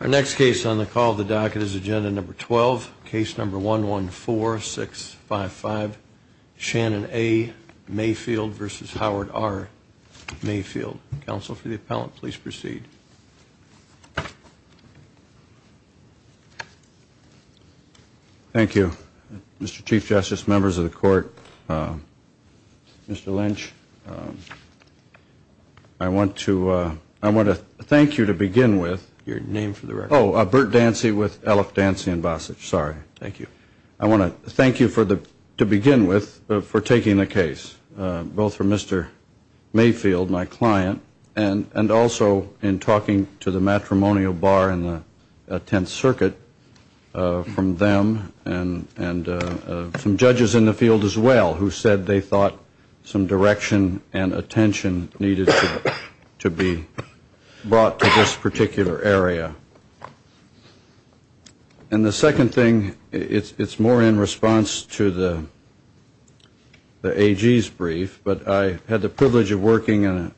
Our next case on the call of the docket is agenda number 12, case number 114655, Shannon A. Mayfield v. Howard R. Mayfield. Counsel for the appellant, please proceed. Thank you, Mr. Chief Justice, members of the court, Mr. Lynch. I want to thank you to begin with. Your name for the record. Oh, Bert Dancy with Aleph Dancy and Vosage, sorry. Thank you. I want to thank you to begin with for taking the case, both from Mr. Mayfield, my client, and also in talking to the matrimonial bar in the Tenth Circuit from them and some judges in the field as well who said they thought some direction and attention needed to be brought to this particular area. And the second thing, it's more in response to the AG's brief, but I had the privilege of working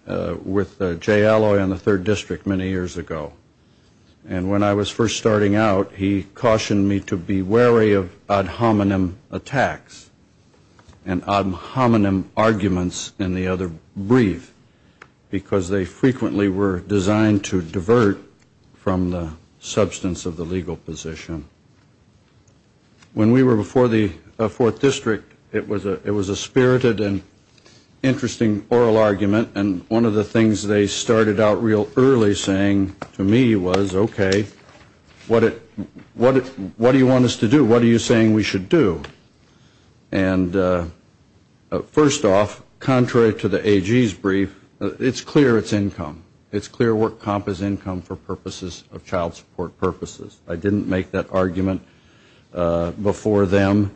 with Jay Alloy in the Third District many years ago. And when I was first starting out, he cautioned me to be wary of ad hominem attacks and ad hominem arguments in the other brief, because they frequently were designed to divert from the substance of the legal position. When we were before the Fourth District, it was a spirited and interesting oral argument, and one of the things they started out real early saying to me was, okay, what do you want us to do? What are you saying we should do? And first off, contrary to the AG's brief, it's clear it's income. It's clear work comp is income for purposes of child support purposes. I didn't make that argument before them.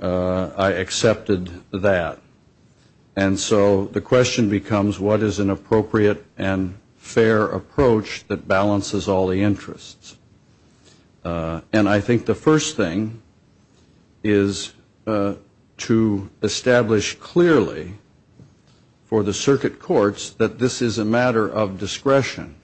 I accepted that. And so the question becomes, what is an appropriate and fair approach that balances all the interests? And I think the first thing is to establish clearly for the circuit courts that this is a matter of discretion.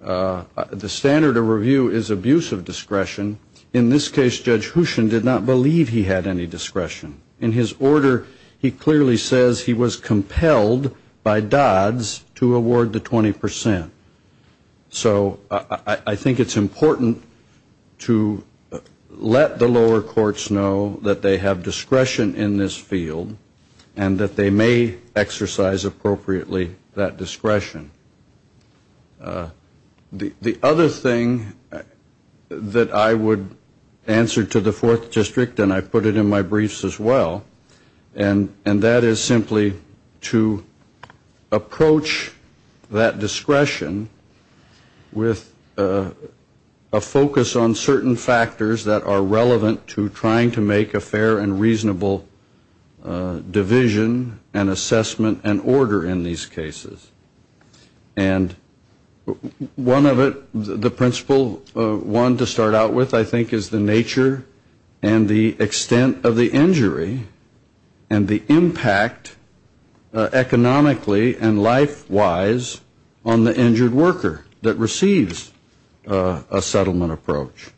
The standard of review is abuse of discretion. In this case, Judge Houchen did not believe he had any discretion. In his order, he clearly says he was compelled by Dodds to award the 20 percent. So I think it's important to let the lower courts know that they have discretion in this field and that they may exercise appropriately that discretion. The other thing that I would answer to the Fourth District, and I put it in my briefs as well, and that is simply to approach that discretion with a focus on certain factors that are relevant to trying to make a fair and reasonable division and assessment and order in these cases. And one of it, the principle one to start out with, I think, is the nature and the extent of the injury and the impact economically and life-wise on the injured worker that receives a settlement approach.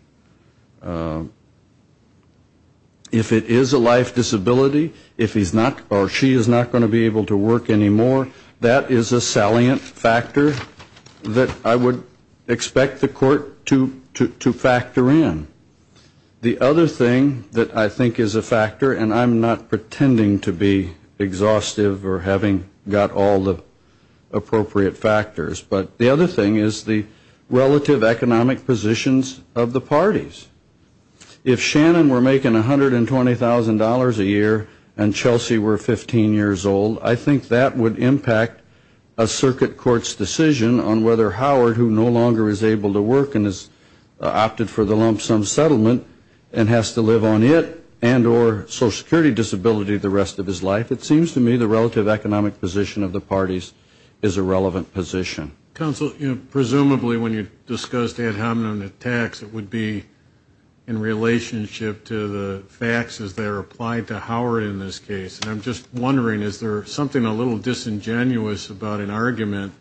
If it is a life disability, if he's not or she is not going to be able to work anymore, that is a salient factor that I would expect the court to factor in. The other thing that I think is a factor, and I'm not pretending to be exhaustive or having got all the appropriate factors, but the other thing is the relative economic positions of the parties. If Shannon were making $120,000 a year and Chelsea were 15 years old, I think that would impact a circuit court's decision on whether Howard, who no longer is able to work and has opted for the lump sum settlement and has to live on it and or social security disability the rest of his life. It seems to me the relative economic position of the parties is a relevant position. Counsel, presumably when you discussed ad hominem tax, it would be in relationship to the faxes that are applied to Howard in this case. And I'm just wondering, is there something a little disingenuous about an argument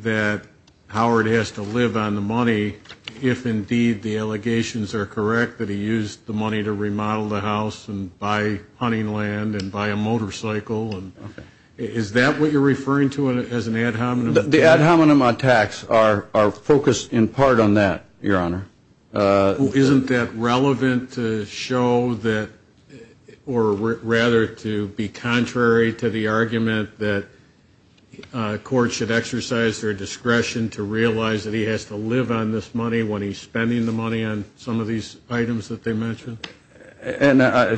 that Howard has to live on the money if indeed the allegations are correct that he used the money to remodel the house and buy hunting land and buy a motorcycle? Is that what you're referring to as an ad hominem? The ad hominem tax are focused in part on that, Your Honor. Isn't that relevant to show that or rather to be contrary to the argument that courts should exercise their discretion to realize that he has to live on this money when he's spending the money on some of these items that they mentioned? And I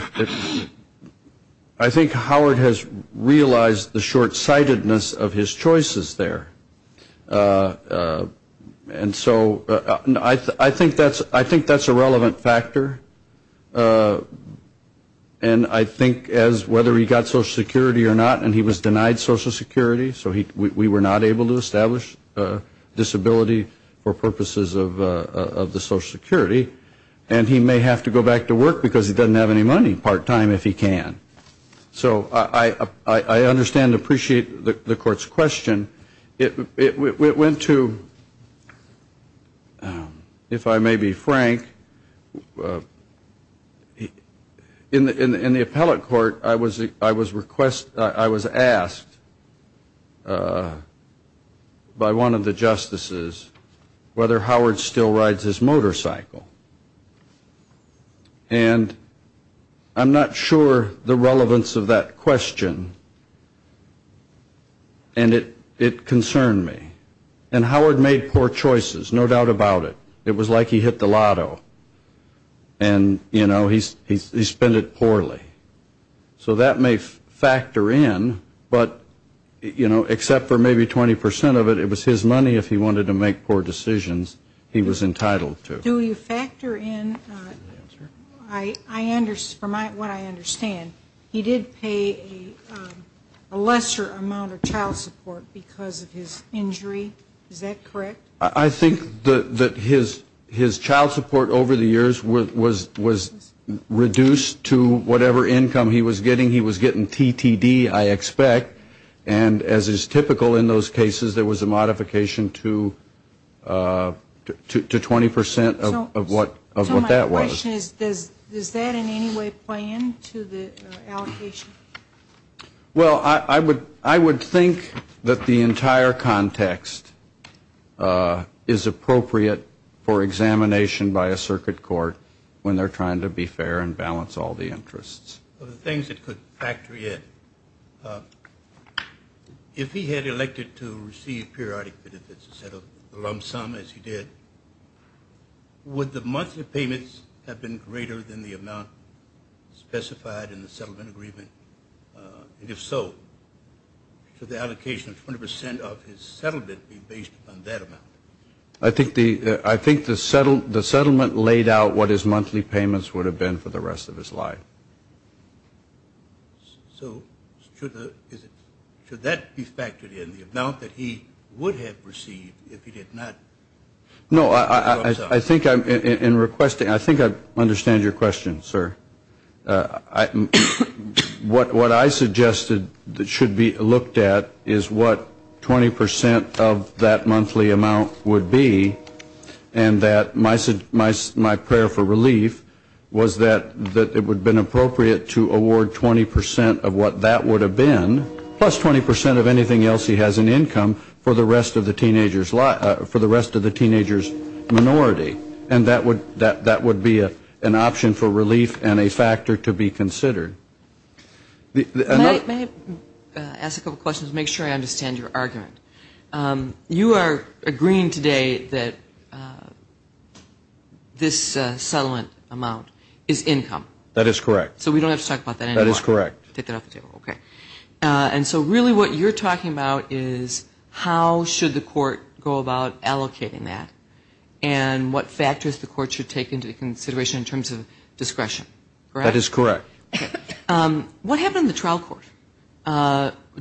think Howard has realized the short-sightedness of his choices there. And so I think that's a relevant factor. And I think as whether he got social security or not, and he was denied social security, so we were not able to establish disability for purposes of the social security, and he may have to go back to work because he doesn't have any money part-time if he can. So I understand and appreciate the Court's question. And it went to, if I may be frank, in the appellate court I was asked by one of the justices whether Howard still rides his motorcycle. And I'm not sure the relevance of that question, and it concerned me. And Howard made poor choices, no doubt about it. It was like he hit the lotto, and, you know, he spent it poorly. So that may factor in, but, you know, except for maybe 20 percent of it, it was his money if he wanted to make poor decisions he was entitled to. Do you factor in, from what I understand, he did pay a lesser amount of child support because of his injury. Is that correct? I think that his child support over the years was reduced to whatever income he was getting. He was getting TTD, I expect. And as is typical in those cases, there was a modification to 20 percent of what that was. So my question is, does that in any way play into the allocation? Well, I would think that the entire context is appropriate for examination by a circuit court when they're trying to be fair and balance all the interests. One of the things that could factor in, if he had elected to receive periodic benefits instead of the lump sum, as he did, would the monthly payments have been greater than the amount specified in the settlement agreement? And if so, should the allocation of 20 percent of his settlement be based on that amount? I think the settlement laid out what his monthly payments would have been for the rest of his life. So should that be factored in, the amount that he would have received if he did not? No, I think I understand your question, sir. What I suggested that should be looked at is what 20 percent of that monthly amount would be, and that my prayer for relief was that it would have been appropriate to award 20 percent of what that would have been, plus 20 percent of anything else he has in income for the rest of the teenager's minority. And that would be an option for relief and a factor to be considered. May I ask a couple questions to make sure I understand your argument? You are agreeing today that this settlement amount is income. That is correct. So we don't have to talk about that anymore. That is correct. Take that off the table, okay. And so really what you're talking about is how should the court go about allocating that and what factors the court should take into consideration in terms of discretion, correct? That is correct. What happened in the trial court?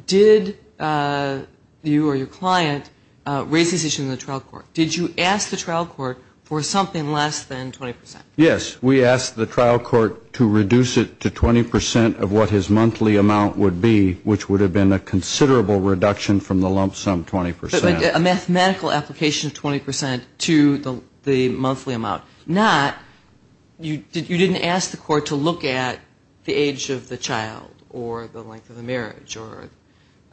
Did you or your client raise this issue in the trial court? Did you ask the trial court for something less than 20 percent? Yes, we asked the trial court to reduce it to 20 percent of what his monthly amount would be, which would have been a considerable reduction from the lump sum, 20 percent. A mathematical application of 20 percent to the monthly amount. Not, you didn't ask the court to look at the age of the child or the length of the marriage or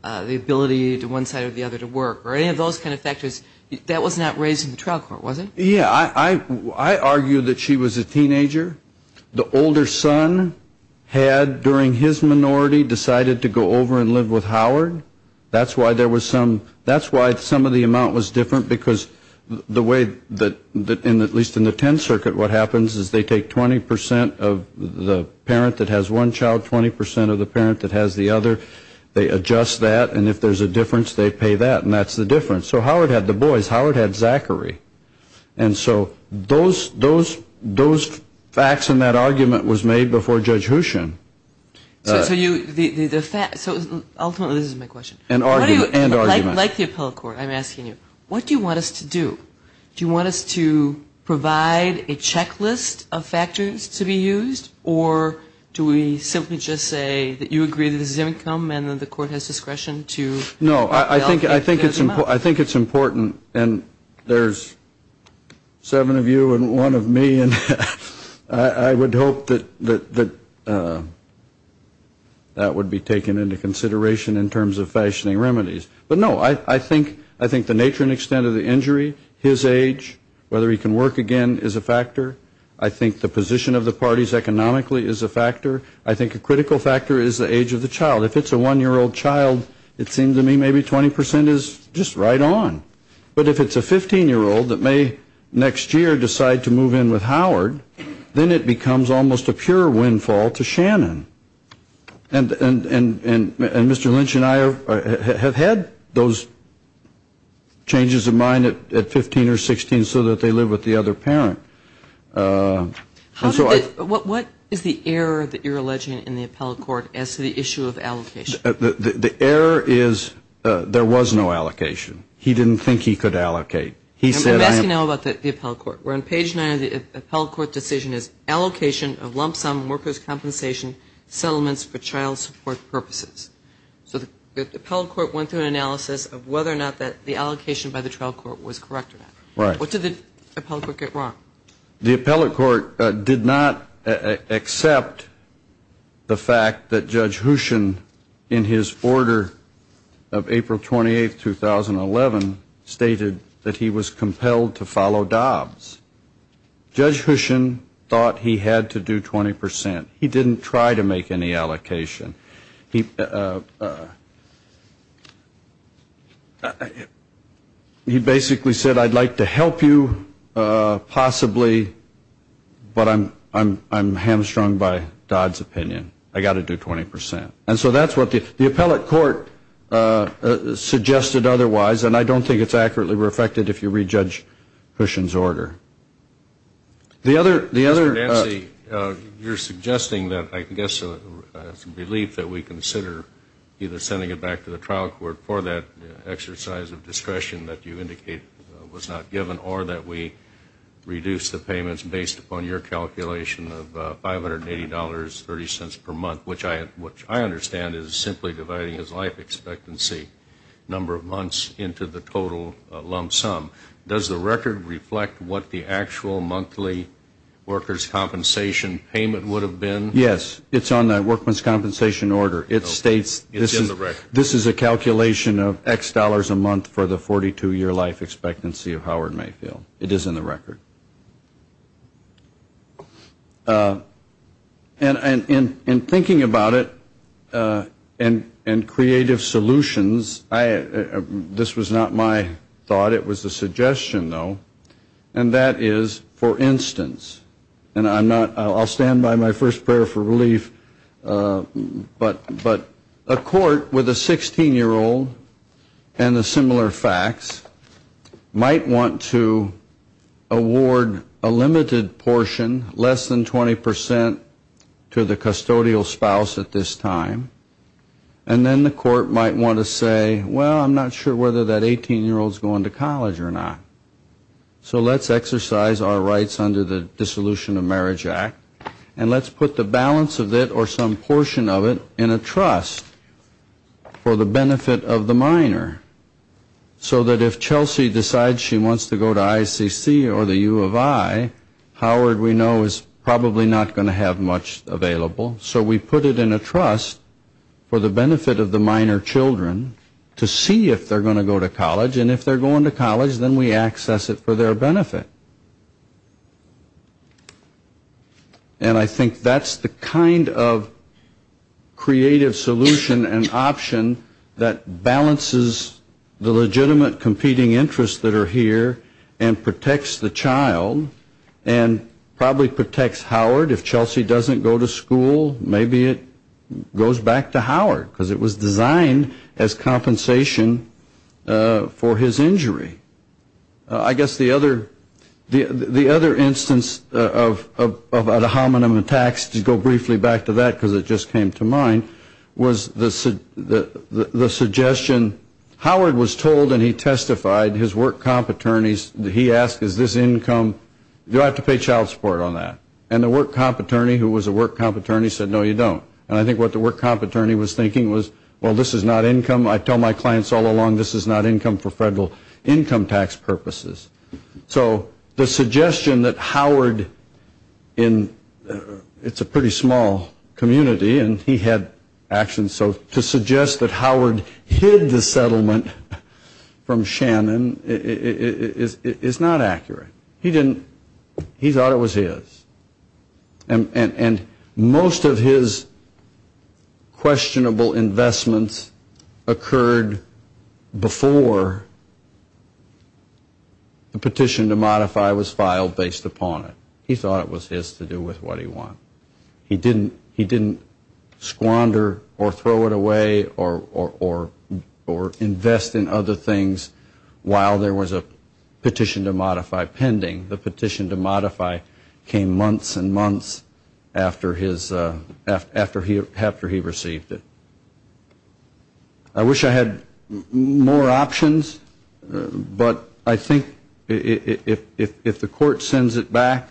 the ability to one side or the other to work or any of those kind of factors. That was not raised in the trial court, was it? Yeah. I argue that she was a teenager. The older son had during his minority decided to go over and live with Howard. That's why there was some, that's why some of the amount was different, because the way that, at least in the Tenth Circuit, what happens is they take 20 percent of the parent that has one child, 20 percent of the parent that has the other. They adjust that, and if there's a difference, they pay that, and that's the difference. So Howard had the boys. Howard had Zachary. And so those facts and that argument was made before Judge Hooshin. So ultimately, this is my question. And argument. Like the appellate court, I'm asking you, what do you want us to do? Do you want us to provide a checklist of factors to be used, or do we simply just say that you agree that this is an income and that the court has discretion to allocate this amount? No, I think it's important, and there's seven of you and one of me, and I would hope that that would be taken into consideration in terms of fashioning remedies. But, no, I think the nature and extent of the injury, his age, whether he can work again is a factor. I think the position of the parties economically is a factor. I think a critical factor is the age of the child. If it's a one-year-old child, it seems to me maybe 20 percent is just right on. But if it's a 15-year-old that may next year decide to move in with Howard, then it becomes almost a pure windfall to Shannon. And Mr. Lynch and I have had those changes of mind at 15 or 16 so that they live with the other parent. What is the error that you're alleging in the appellate court as to the issue of allocation? The error is there was no allocation. He didn't think he could allocate. I'm asking now about the appellate court. Where on page 9 of the appellate court decision is allocation of lump sum workers' compensation settlements for child support purposes. So the appellate court went through an analysis of whether or not the allocation by the trial court was correct or not. Right. What did the appellate court get wrong? The appellate court did not accept the fact that Judge Hushin, in his order of April 28, 2011, stated that he was compelled to follow Dobbs. Judge Hushin thought he had to do 20 percent. He didn't try to make any allocation. He basically said, I'd like to help you possibly, but I'm hamstrung by Dobbs' opinion. I've got to do 20 percent. And so that's what the appellate court suggested otherwise, and I don't think it's accurately reflected if you re-judge Hushin's order. Mr. Dancy, you're suggesting that I guess it's a belief that we consider either sending it back to the trial court for that exercise of discretion that you indicate was not given or that we reduce the payments based upon your calculation of $580.30 per month, which I understand is simply dividing his life expectancy number of months into the total lump sum. Does the record reflect what the actual monthly workers' compensation payment would have been? Yes. It's on the workmen's compensation order. It states this is a calculation of X dollars a month for the 42-year life expectancy of Howard Mayfield. It is in the record. And in thinking about it and creative solutions, this was not my thought. It was a suggestion, though, and that is, for instance, and I'll stand by my first prayer for relief, but a court with a 16-year-old and the similar facts might want to award a limited portion, less than 20 percent, to the custodial spouse at this time. And then the court might want to say, well, I'm not sure whether that 18-year-old is going to college or not. So let's exercise our rights under the Dissolution of Marriage Act and let's put the balance of it or some portion of it in a trust for the benefit of the minor, so that if Chelsea decides she wants to go to ICC or the U of I, Howard we know is probably not going to have much available. So we put it in a trust for the benefit of the minor children to see if they're going to go to college. And if they're going to college, then we access it for their benefit. And I think that's the kind of creative solution and option that balances the legitimate competing interests that are here and protects the child and probably protects Howard. If Chelsea doesn't go to school, maybe it goes back to Howard because it was designed as compensation for his injury. I guess the other instance of ad hominem attacks, to go briefly back to that because it just came to mind, was the suggestion, Howard was told and he testified, his work comp attorneys, he asked, is this income, do I have to pay child support on that? And the work comp attorney who was a work comp attorney said, no, you don't. And I think what the work comp attorney was thinking was, well, this is not income. I tell my clients all along, this is not income for federal income tax purposes. So the suggestion that Howard, it's a pretty small community and he had actions, to suggest that Howard hid the settlement from Shannon is not accurate. He thought it was his. And most of his questionable investments occurred before the petition to modify was filed based upon it. He thought it was his to do with what he wanted. He didn't squander or throw it away or invest in other things while there was a petition to modify pending. The petition to modify came months and months after he received it. I wish I had more options, but I think if the court sends it back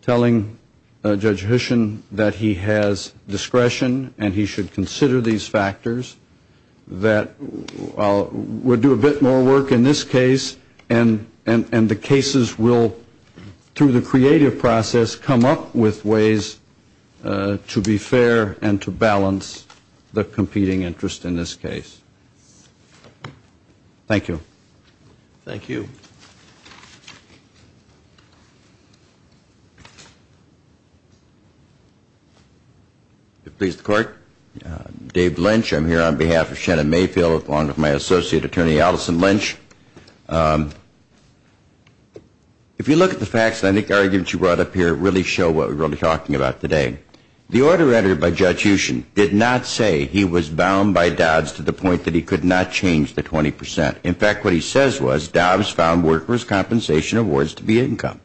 telling Judge Hushen that he has discretion and he should consider these factors, that would do a bit more work in this case and the cases will, through the creative process, come up with ways to be fair and to balance the competing interest in this case. Thank you. Please, the court. Dave Lynch, I'm here on behalf of Shannon Mayfield, along with my associate attorney Allison Lynch. If you look at the facts, I think the arguments you brought up here really show what we're really talking about today. The order entered by Judge Hushen did not say he was bound by Dobbs to the point that he could not change the 20%. In fact, what he says was, Dobbs found workers' compensation awards to be income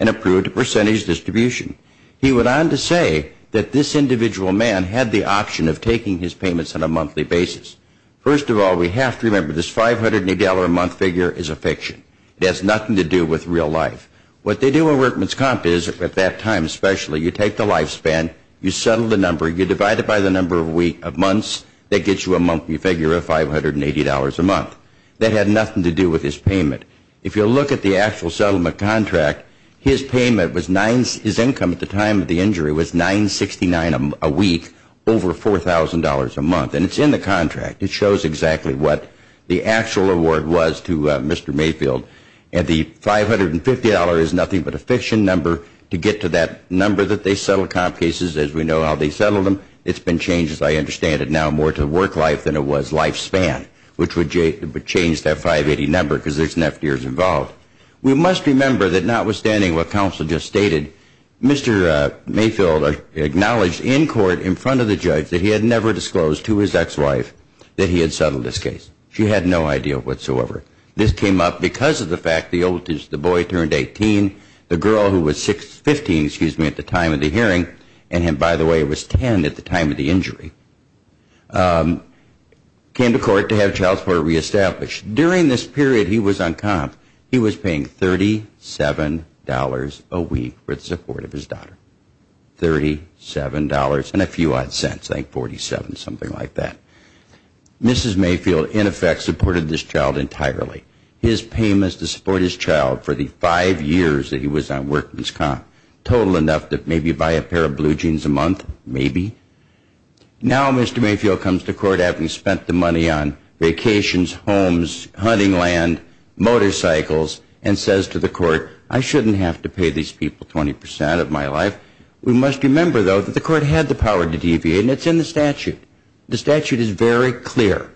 and approved a percentage distribution. He went on to say that this individual man had the option of taking his payments on a monthly basis. First of all, we have to remember this $580 a month figure is a fiction. It has nothing to do with real life. What they do in workman's comp is, at that time especially, you take the lifespan, you settle the number, you divide it by the number of months, that gets you a monthly figure of $580 a month. That had nothing to do with his payment. If you look at the actual settlement contract, his income at the time of the injury was $969 a week, over $4,000 a month. And it's in the contract. It shows exactly what the actual award was to Mr. Mayfield. And the $550 is nothing but a fiction number. To get to that number that they settled comp cases as we know how they settled them, it's been changed, as I understand it now, more to work life than it was lifespan, which would change that $580 number because there's an FDR involved. We must remember that notwithstanding what counsel just stated, Mr. Mayfield acknowledged in court in front of the judge that he had never disclosed to his ex-wife that he had settled this case. She had no idea whatsoever. This came up because of the fact the boy turned 18, the girl who was 15 at the time of the hearing, and him, by the way, was 10 at the time of the injury, came to court to have child support reestablished. During this period he was on comp, he was paying $37 a week for the support of his daughter, $37 and a few odd cents, I think 47, something like that. Mrs. Mayfield, in effect, supported this child entirely. His payments to support his child for the five years that he was on workman's comp, total enough to maybe buy a pair of blue jeans a month, maybe. Now Mr. Mayfield comes to court having spent the money on vacations, homes, hunting land, motorcycles, and says to the court, I shouldn't have to pay these people 20% of my life. We must remember, though, that the court had the power to deviate, and it's in the statute. The statute is very clear.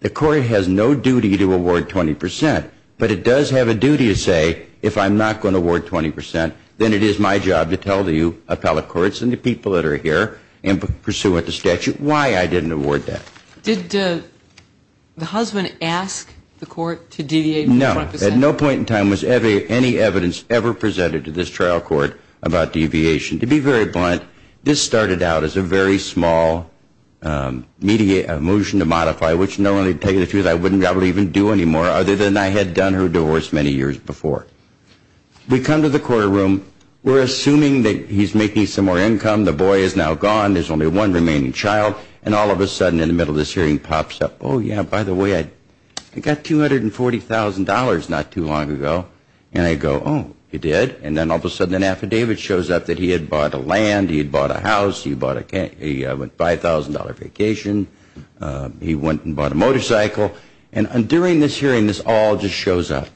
The court has no duty to award 20%, but it does have a duty to say, if I'm not going to award 20%, then it is my job to tell the appellate courts and the people that are here pursuant to statute why I didn't award that. Did the husband ask the court to deviate more than 5%? No. At no point in time was any evidence ever presented to this trial court about deviation. To be very blunt, this started out as a very small motion to modify, which normally, to tell you the truth, I wouldn't probably even do anymore, other than I had done her divorce many years before. We come to the courtroom. We're assuming that he's making some more income. The boy is now gone. There's only one remaining child. And all of a sudden in the middle of this hearing pops up, oh, yeah, by the way, I got $240,000 not too long ago. And I go, oh, you did? And then all of a sudden an affidavit shows up that he had bought a land, he had bought a house, he went on a $5,000 vacation, he went and bought a motorcycle. And during this hearing this all just shows up.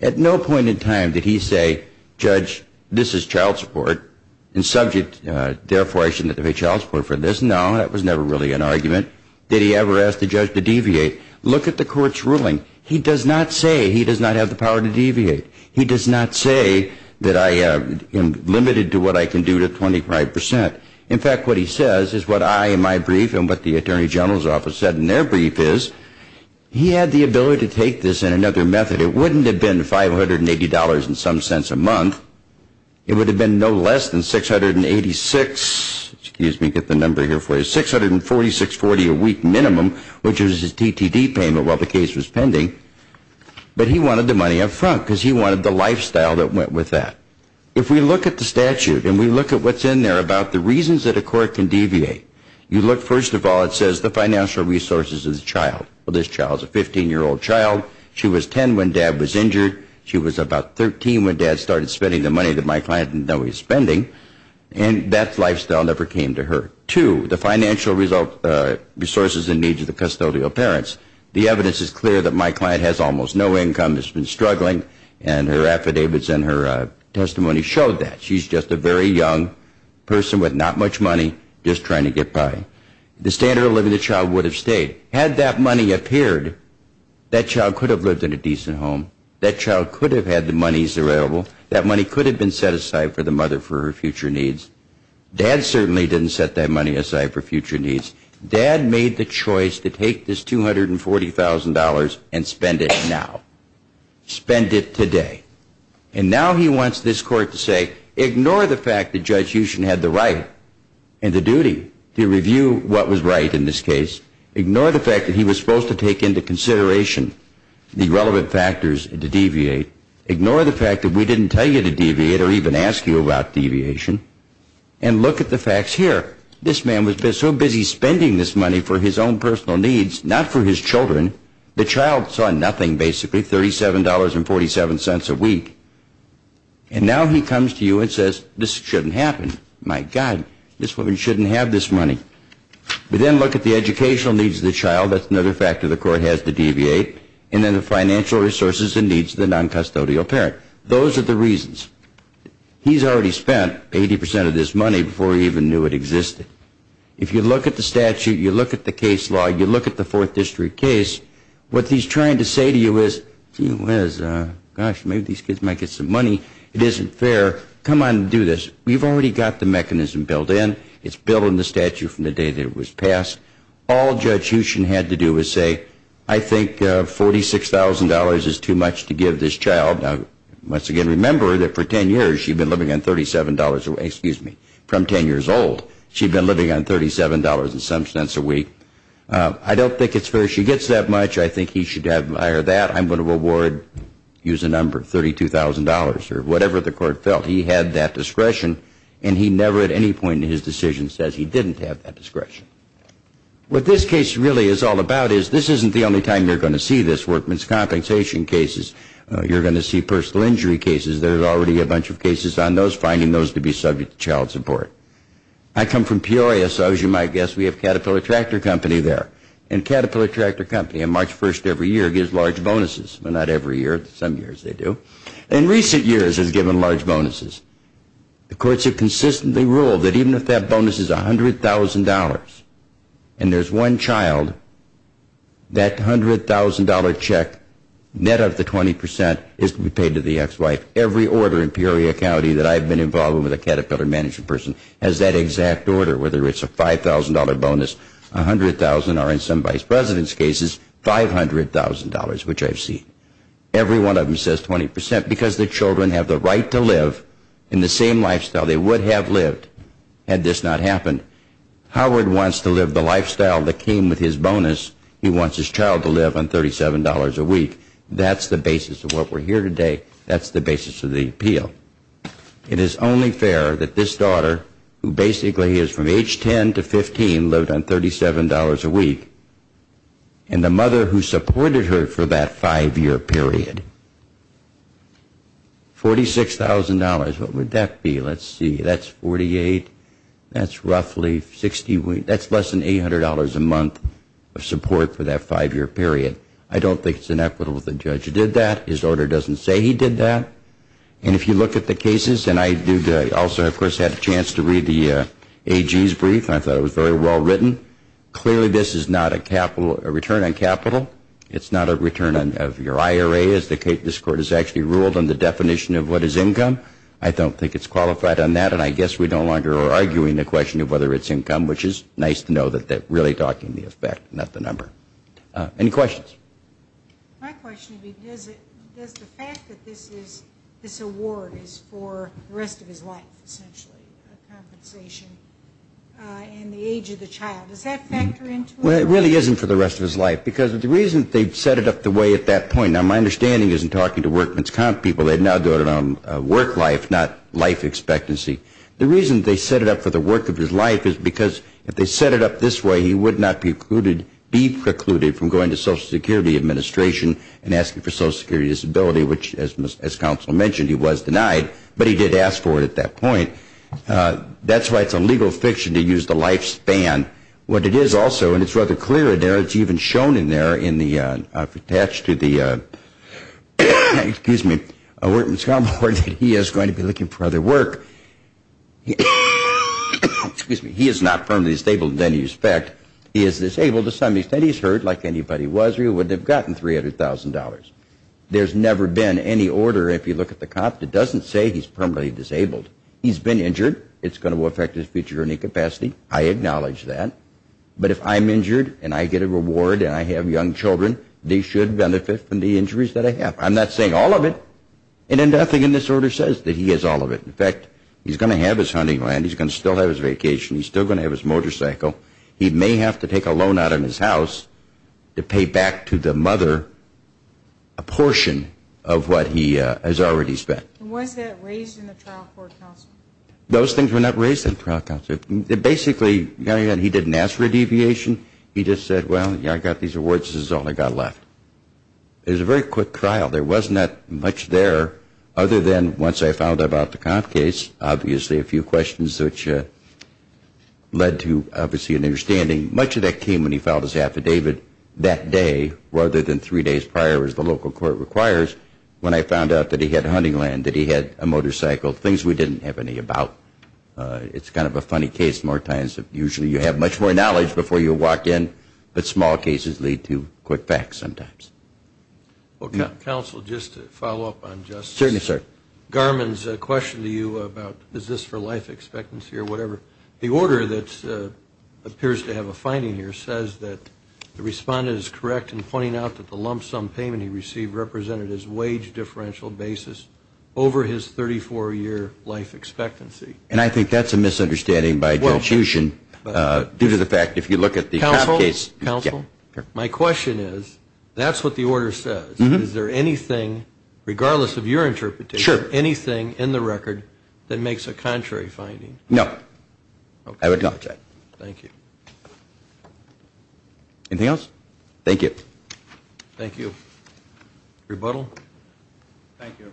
At no point in time did he say, Judge, this is child support and subject, therefore I shouldn't have to pay child support for this. No, that was never really an argument. Did he ever ask the judge to deviate? Look at the court's ruling. He does not say he does not have the power to deviate. He does not say that I am limited to what I can do to 25%. In fact, what he says is what I in my brief and what the attorney general's office said in their brief is, he had the ability to take this in another method. It wouldn't have been $580 in some sense a month. It would have been no less than $686, excuse me, get the number here for you, $646.40 a week minimum, which was his DTD payment while the case was pending. But he wanted the money up front because he wanted the lifestyle that went with that. If we look at the statute and we look at what's in there about the reasons that a court can deviate, you look first of all, it says the financial resources of the child. Well, this child is a 15-year-old child. She was 10 when dad was injured. She was about 13 when dad started spending the money that my client didn't know he was spending. And that lifestyle never came to her. Two, the financial resources and needs of the custodial parents. The evidence is clear that my client has almost no income, has been struggling, and her affidavits and her testimony showed that. She's just a very young person with not much money just trying to get by. The standard of living of the child would have stayed. Had that money appeared, that child could have lived in a decent home. That child could have had the monies available. That money could have been set aside for the mother for her future needs. Dad certainly didn't set that money aside for future needs. Dad made the choice to take this $240,000 and spend it now. Spend it today. And now he wants this court to say, ignore the fact that Judge Huchin had the right and the duty to review what was right in this case. Ignore the fact that he was supposed to take into consideration the relevant factors to deviate. Ignore the fact that we didn't tell you to deviate or even ask you about deviation. And look at the facts here. This man was so busy spending this money for his own personal needs, not for his children, the child saw nothing basically, $37.47 a week. And now he comes to you and says, this shouldn't happen. My God, this woman shouldn't have this money. But then look at the educational needs of the child. That's another factor the court has to deviate. And then the financial resources and needs of the noncustodial parent. Those are the reasons. He's already spent 80% of this money before he even knew it existed. If you look at the statute, you look at the case law, you look at the Fourth District case, what he's trying to say to you is, gee whiz, gosh, maybe these kids might get some money. It isn't fair. Come on and do this. We've already got the mechanism built in. It's built in the statute from the day that it was passed. All Judge Huchin had to do was say, I think $46,000 is too much to give this child. Now, once again, remember that for 10 years she'd been living on $37, excuse me, from 10 years old. She'd been living on $37 and some cents a week. I don't think it's fair. She gets that much. I think he should admire that. I'm going to award, use a number, $32,000 or whatever the court felt. He had that discretion. And he never at any point in his decision says he didn't have that discretion. What this case really is all about is this isn't the only time you're going to see this. You're going to see personal injury cases. There's already a bunch of cases on those, finding those to be subject to child support. I come from Peoria, so as you might guess, we have Caterpillar Tractor Company there. And Caterpillar Tractor Company on March 1st every year gives large bonuses. Well, not every year. Some years they do. In recent years it's given large bonuses. The courts have consistently ruled that even if that bonus is $100,000 and there's one child, that $100,000 check, net of the 20%, is to be paid to the ex-wife. Every order in Peoria County that I've been involved with a Caterpillar management person has that exact order, whether it's a $5,000 bonus, $100,000, or in some vice presidents' cases, $500,000, which I've seen. Every one of them says 20% because the children have the right to live in the same lifestyle they would have lived had this not happened. Howard wants to live the lifestyle that came with his bonus. He wants his child to live on $37 a week. That's the basis of what we're here today. That's the basis of the appeal. It is only fair that this daughter, who basically is from age 10 to 15, lived on $37 a week, and the mother who supported her for that five-year period, $46,000. What would that be? Let's see. That's 48. That's roughly 60. That's less than $800 a month of support for that five-year period. I don't think it's inequitable that the judge did that. His order doesn't say he did that. And if you look at the cases, and I also, of course, had a chance to read the AG's brief, and I thought it was very well written. Clearly, this is not a return on capital. It's not a return of your IRA, as this Court has actually ruled on the definition of what is income. I don't think it's qualified on that, and I guess we no longer are arguing the question of whether it's income, which is nice to know that they're really talking the effect, not the number. Any questions? My question would be, does the fact that this award is for the rest of his life, essentially, a compensation in the age of the child, does that factor into it? Well, it really isn't for the rest of his life, because the reason they've set it up the way at that point, now, my understanding isn't talking to workman's comp people. They're now doing it on work life, not life expectancy. The reason they set it up for the work of his life is because if they set it up this way, he would not be precluded from going to Social Security Administration and asking for Social Security Disability, which, as counsel mentioned, he was denied, but he did ask for it at that point. That's why it's a legal fiction to use the lifespan. What it is also, and it's rather clear there, it's even shown in there, attached to the workman's comp award, that he is going to be looking for other work. He is not permanently disabled in any respect. He is disabled to some extent. He's hurt like anybody was or he wouldn't have gotten $300,000. There's never been any order. If you look at the comp, it doesn't say he's permanently disabled. He's been injured. It's going to affect his future earning capacity. I acknowledge that. But if I'm injured and I get a reward and I have young children, they should benefit from the injuries that I have. I'm not saying all of it. And then nothing in this order says that he has all of it. In fact, he's going to have his hunting land. He's going to still have his vacation. He's still going to have his motorcycle. He may have to take a loan out of his house to pay back to the mother a portion of what he has already spent. And was that raised in the trial court, counsel? Those things were not raised in the trial court, counsel. Basically, he didn't ask for a deviation. He just said, well, I got these awards. This is all I got left. It was a very quick trial. There was not much there other than once I found out about the comp case, obviously, a few questions which led to obviously an understanding. Much of that came when he filed his affidavit that day rather than three days prior, as the local court requires, when I found out that he had hunting land, that he had a motorcycle, things we didn't have any about. It's kind of a funny case more times. Usually you have much more knowledge before you walk in, but small cases lead to quick facts sometimes. Counsel, just to follow up on Justice Garmon's question to you about is this for life expectancy or whatever, the order that appears to have a finding here says that the respondent is correct in pointing out that the lump sum payment he received represented his wage differential basis over his 34-year life expectancy. And I think that's a misunderstanding by institution due to the fact if you look at the comp case. Counsel, my question is, that's what the order says. Is there anything, regardless of your interpretation, anything in the record that makes a contrary finding? No. I would note that. Thank you. Anything else? Thank you. Thank you. Rebuttal? Thank you.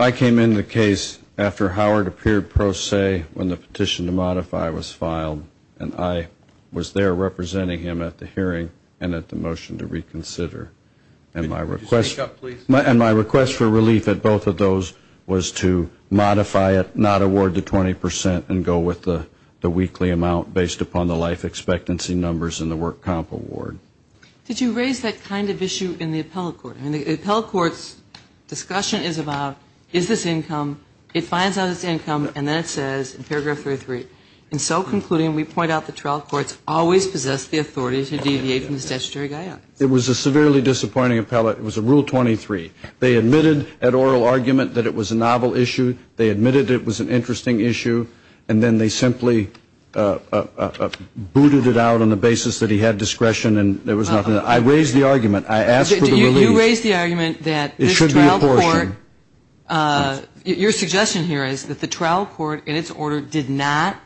I came in the case after Howard appeared pro se when the petition to modify was filed, and I was there representing him at the hearing and at the motion to reconsider. Did you speak up, please? And my request for relief at both of those was to modify it, not award the 20% and go with the weekly amount based upon the life expectancy numbers and the work comp award. Did you raise that kind of issue in the appellate court? I mean, the appellate court's discussion is about is this income, it finds out it's income, and then it says in paragraph 33, in so concluding, we point out the trial courts always possess the authority to deviate from the statutory guidelines. It was a severely disappointing appellate. It was a rule 23. They admitted at oral argument that it was a novel issue. They admitted it was an interesting issue, and then they simply booted it out on the basis that he had discretion and there was nothing. I raised the argument. I asked for the relief. You raised the argument that this trial court. It should be apportioned. Your suggestion here is that the trial court, in its order, did not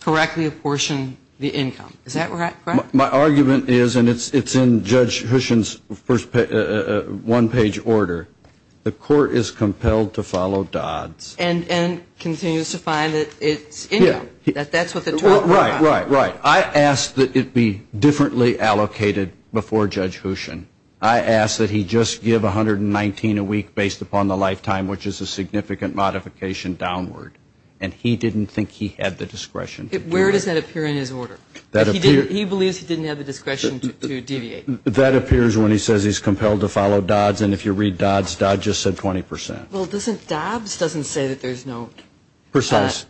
correctly apportion the income. Is that correct? My argument is, and it's in Judge Hushin's one-page order, the court is compelled to follow Dodd's. And continues to find that it's income. Yeah. That that's what the trial court. Right, right, right. I asked that it be differently allocated before Judge Hushin. I asked that he just give $119 a week based upon the lifetime, which is a significant modification downward. And he didn't think he had the discretion. Where does that appear in his order? He believes he didn't have the discretion to deviate. That appears when he says he's compelled to follow Dodd's. And if you read Dodd's, Dodd just said 20%. Well, Dodd's doesn't say that there's no. Precise.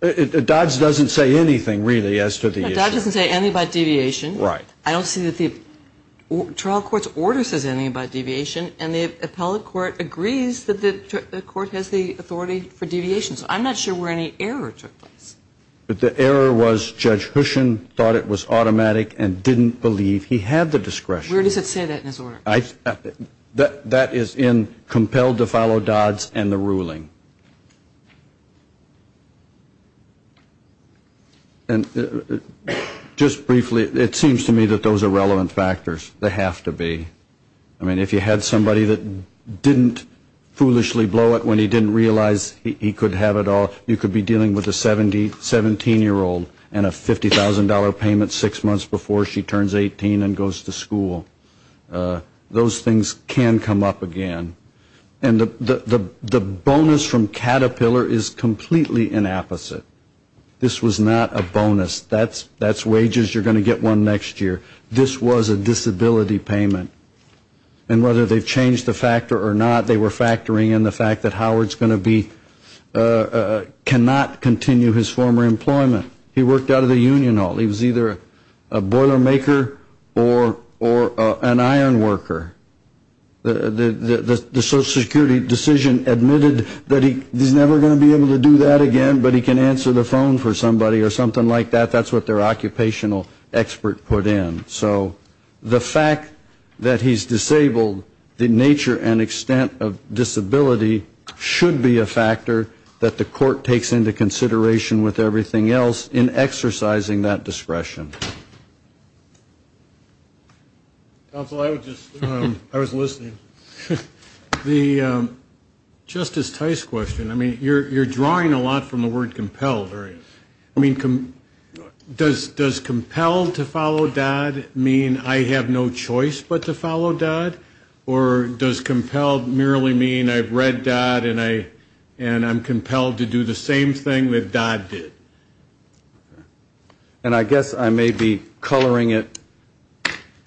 Dodd's doesn't say anything, really, as to the issue. Dodd's doesn't say anything about deviation. Right. I don't see that the trial court's order says anything about deviation. And the appellate court agrees that the court has the authority for deviation. So I'm not sure where any error took place. But the error was Judge Hushin thought it was automatic and didn't believe he had the discretion. Where does it say that in his order? That is in compelled to follow Dodd's and the ruling. And just briefly, it seems to me that those are relevant factors. They have to be. I mean, if you had somebody that didn't foolishly blow it when he didn't realize he could have it all, you could be dealing with a 17-year-old and a $50,000 payment six months before she turns 18 and goes to school. Those things can come up again. And the bonus from Caterpillar is completely an opposite. This was not a bonus. That's wages. You're going to get one next year. This was a disability payment. And whether they've changed the factor or not, they were factoring in the fact that Howard's going to be, cannot continue his former employment. He worked out of the union hall. He was either a boiler maker or an iron worker. The Social Security decision admitted that he's never going to be able to do that again, but he can answer the phone for somebody or something like that. That's what their occupational expert put in. So the fact that he's disabled, the nature and extent of disability should be a factor that the court takes into consideration with everything else in exercising that discretion. Counsel, I was listening. The Justice Tice question, I mean, you're drawing a lot from the word compelled. I mean, does compelled to follow Dodd mean I have no choice but to follow Dodd? Or does compelled merely mean I've read Dodd and I'm compelled to do the same thing that Dodd did? And I guess I may be coloring it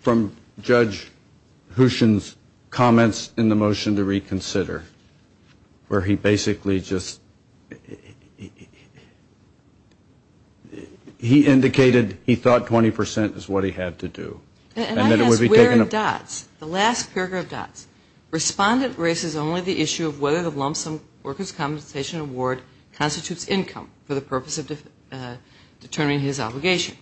from Judge Houchen's comments in the motion to reconsider, where he basically just, he indicated he thought 20 percent is what he had to do. And I guess where in Dodd's, the last paragraph of Dodd's, respondent raises only the issue of whether the lump sum workers' compensation award constitutes income for the purpose of determining his obligation.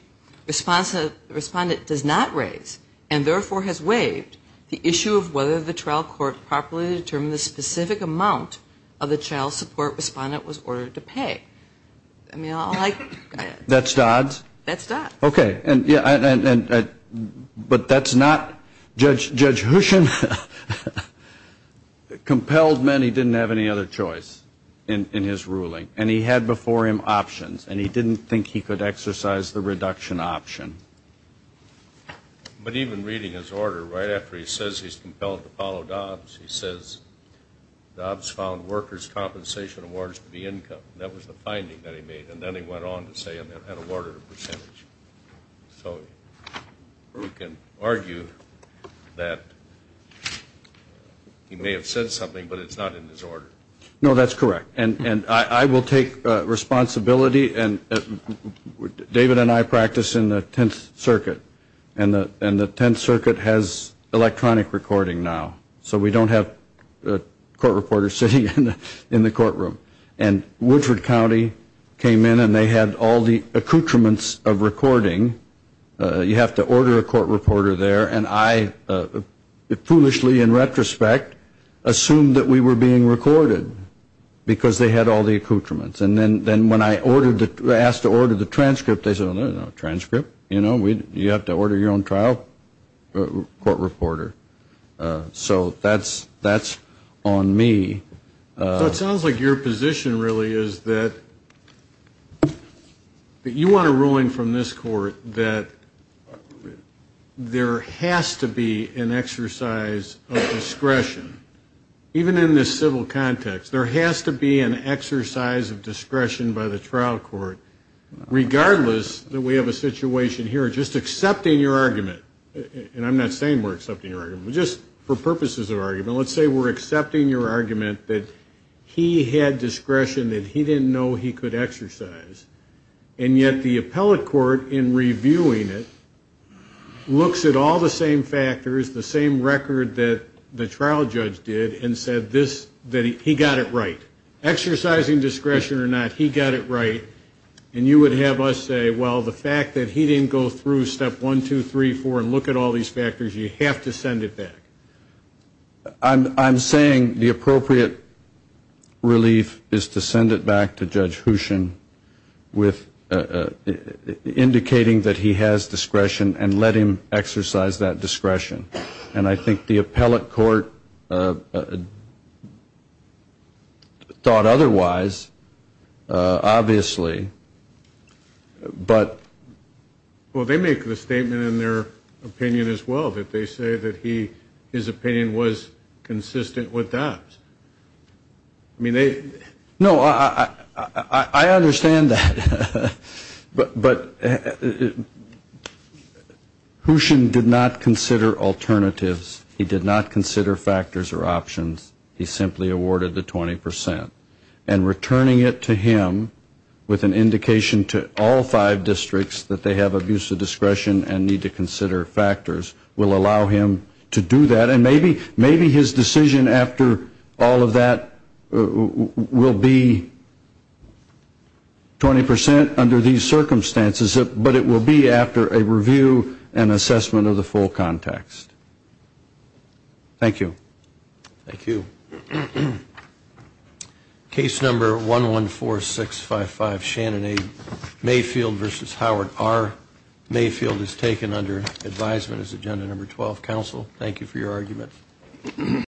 Respondent does not raise, and therefore has waived, the issue of whether the trial court properly determined the specific amount of the child support respondent was ordered to pay. That's Dodd's? That's Dodd's. Okay. But that's not Judge Houchen. Compelled meant he didn't have any other choice in his ruling. And he had before him options. And he didn't think he could exercise the reduction option. But even reading his order, right after he says he's compelled to follow Dodd's, he says Dodd's found workers' compensation awards to be income. That was the finding that he made. And then he went on to say it had an order of percentage. So we can argue that he may have said something, but it's not in his order. No, that's correct. And I will take responsibility. David and I practice in the Tenth Circuit. And the Tenth Circuit has electronic recording now. So we don't have court reporters sitting in the courtroom. And Woodford County came in, and they had all the accoutrements of recording. You have to order a court reporter there. And I foolishly, in retrospect, assumed that we were being recorded because they had all the accoutrements. And then when I asked to order the transcript, they said, no, no, no, transcript? You have to order your own trial court reporter. So that's on me. It sounds like your position really is that you want a ruling from this court that there has to be an exercise of discretion. Even in this civil context, there has to be an exercise of discretion by the trial court, regardless that we have a situation here of just accepting your argument. And I'm not saying we're accepting your argument, but just for purposes of argument, let's say we're accepting your argument that he had discretion that he didn't know he could exercise. And yet the appellate court, in reviewing it, looks at all the same factors, the same record that the trial judge did and said this, that he got it right. Exercising discretion or not, he got it right. And you would have us say, well, the fact that he didn't go through step one, two, three, four, and look at all these factors, you have to send it back. I'm saying the appropriate relief is to send it back to Judge Hooshin with indicating that he has discretion and let him exercise that discretion. And I think the appellate court thought otherwise, obviously. Well, they make the statement in their opinion as well that they say that his opinion was consistent with that. No, I understand that. But Hooshin did not consider alternatives. He did not consider factors or options. He simply awarded the 20%. And returning it to him with an indication to all five districts that they have abuse of discretion and need to consider factors will allow him to do that. And maybe his decision after all of that will be 20% under these circumstances, but it will be after a review and assessment of the full context. Thank you. Thank you. Case number 114655, Shannon A. Mayfield v. Howard R. Mayfield is taken under advisement as agenda number 12. Counsel, thank you for your argument.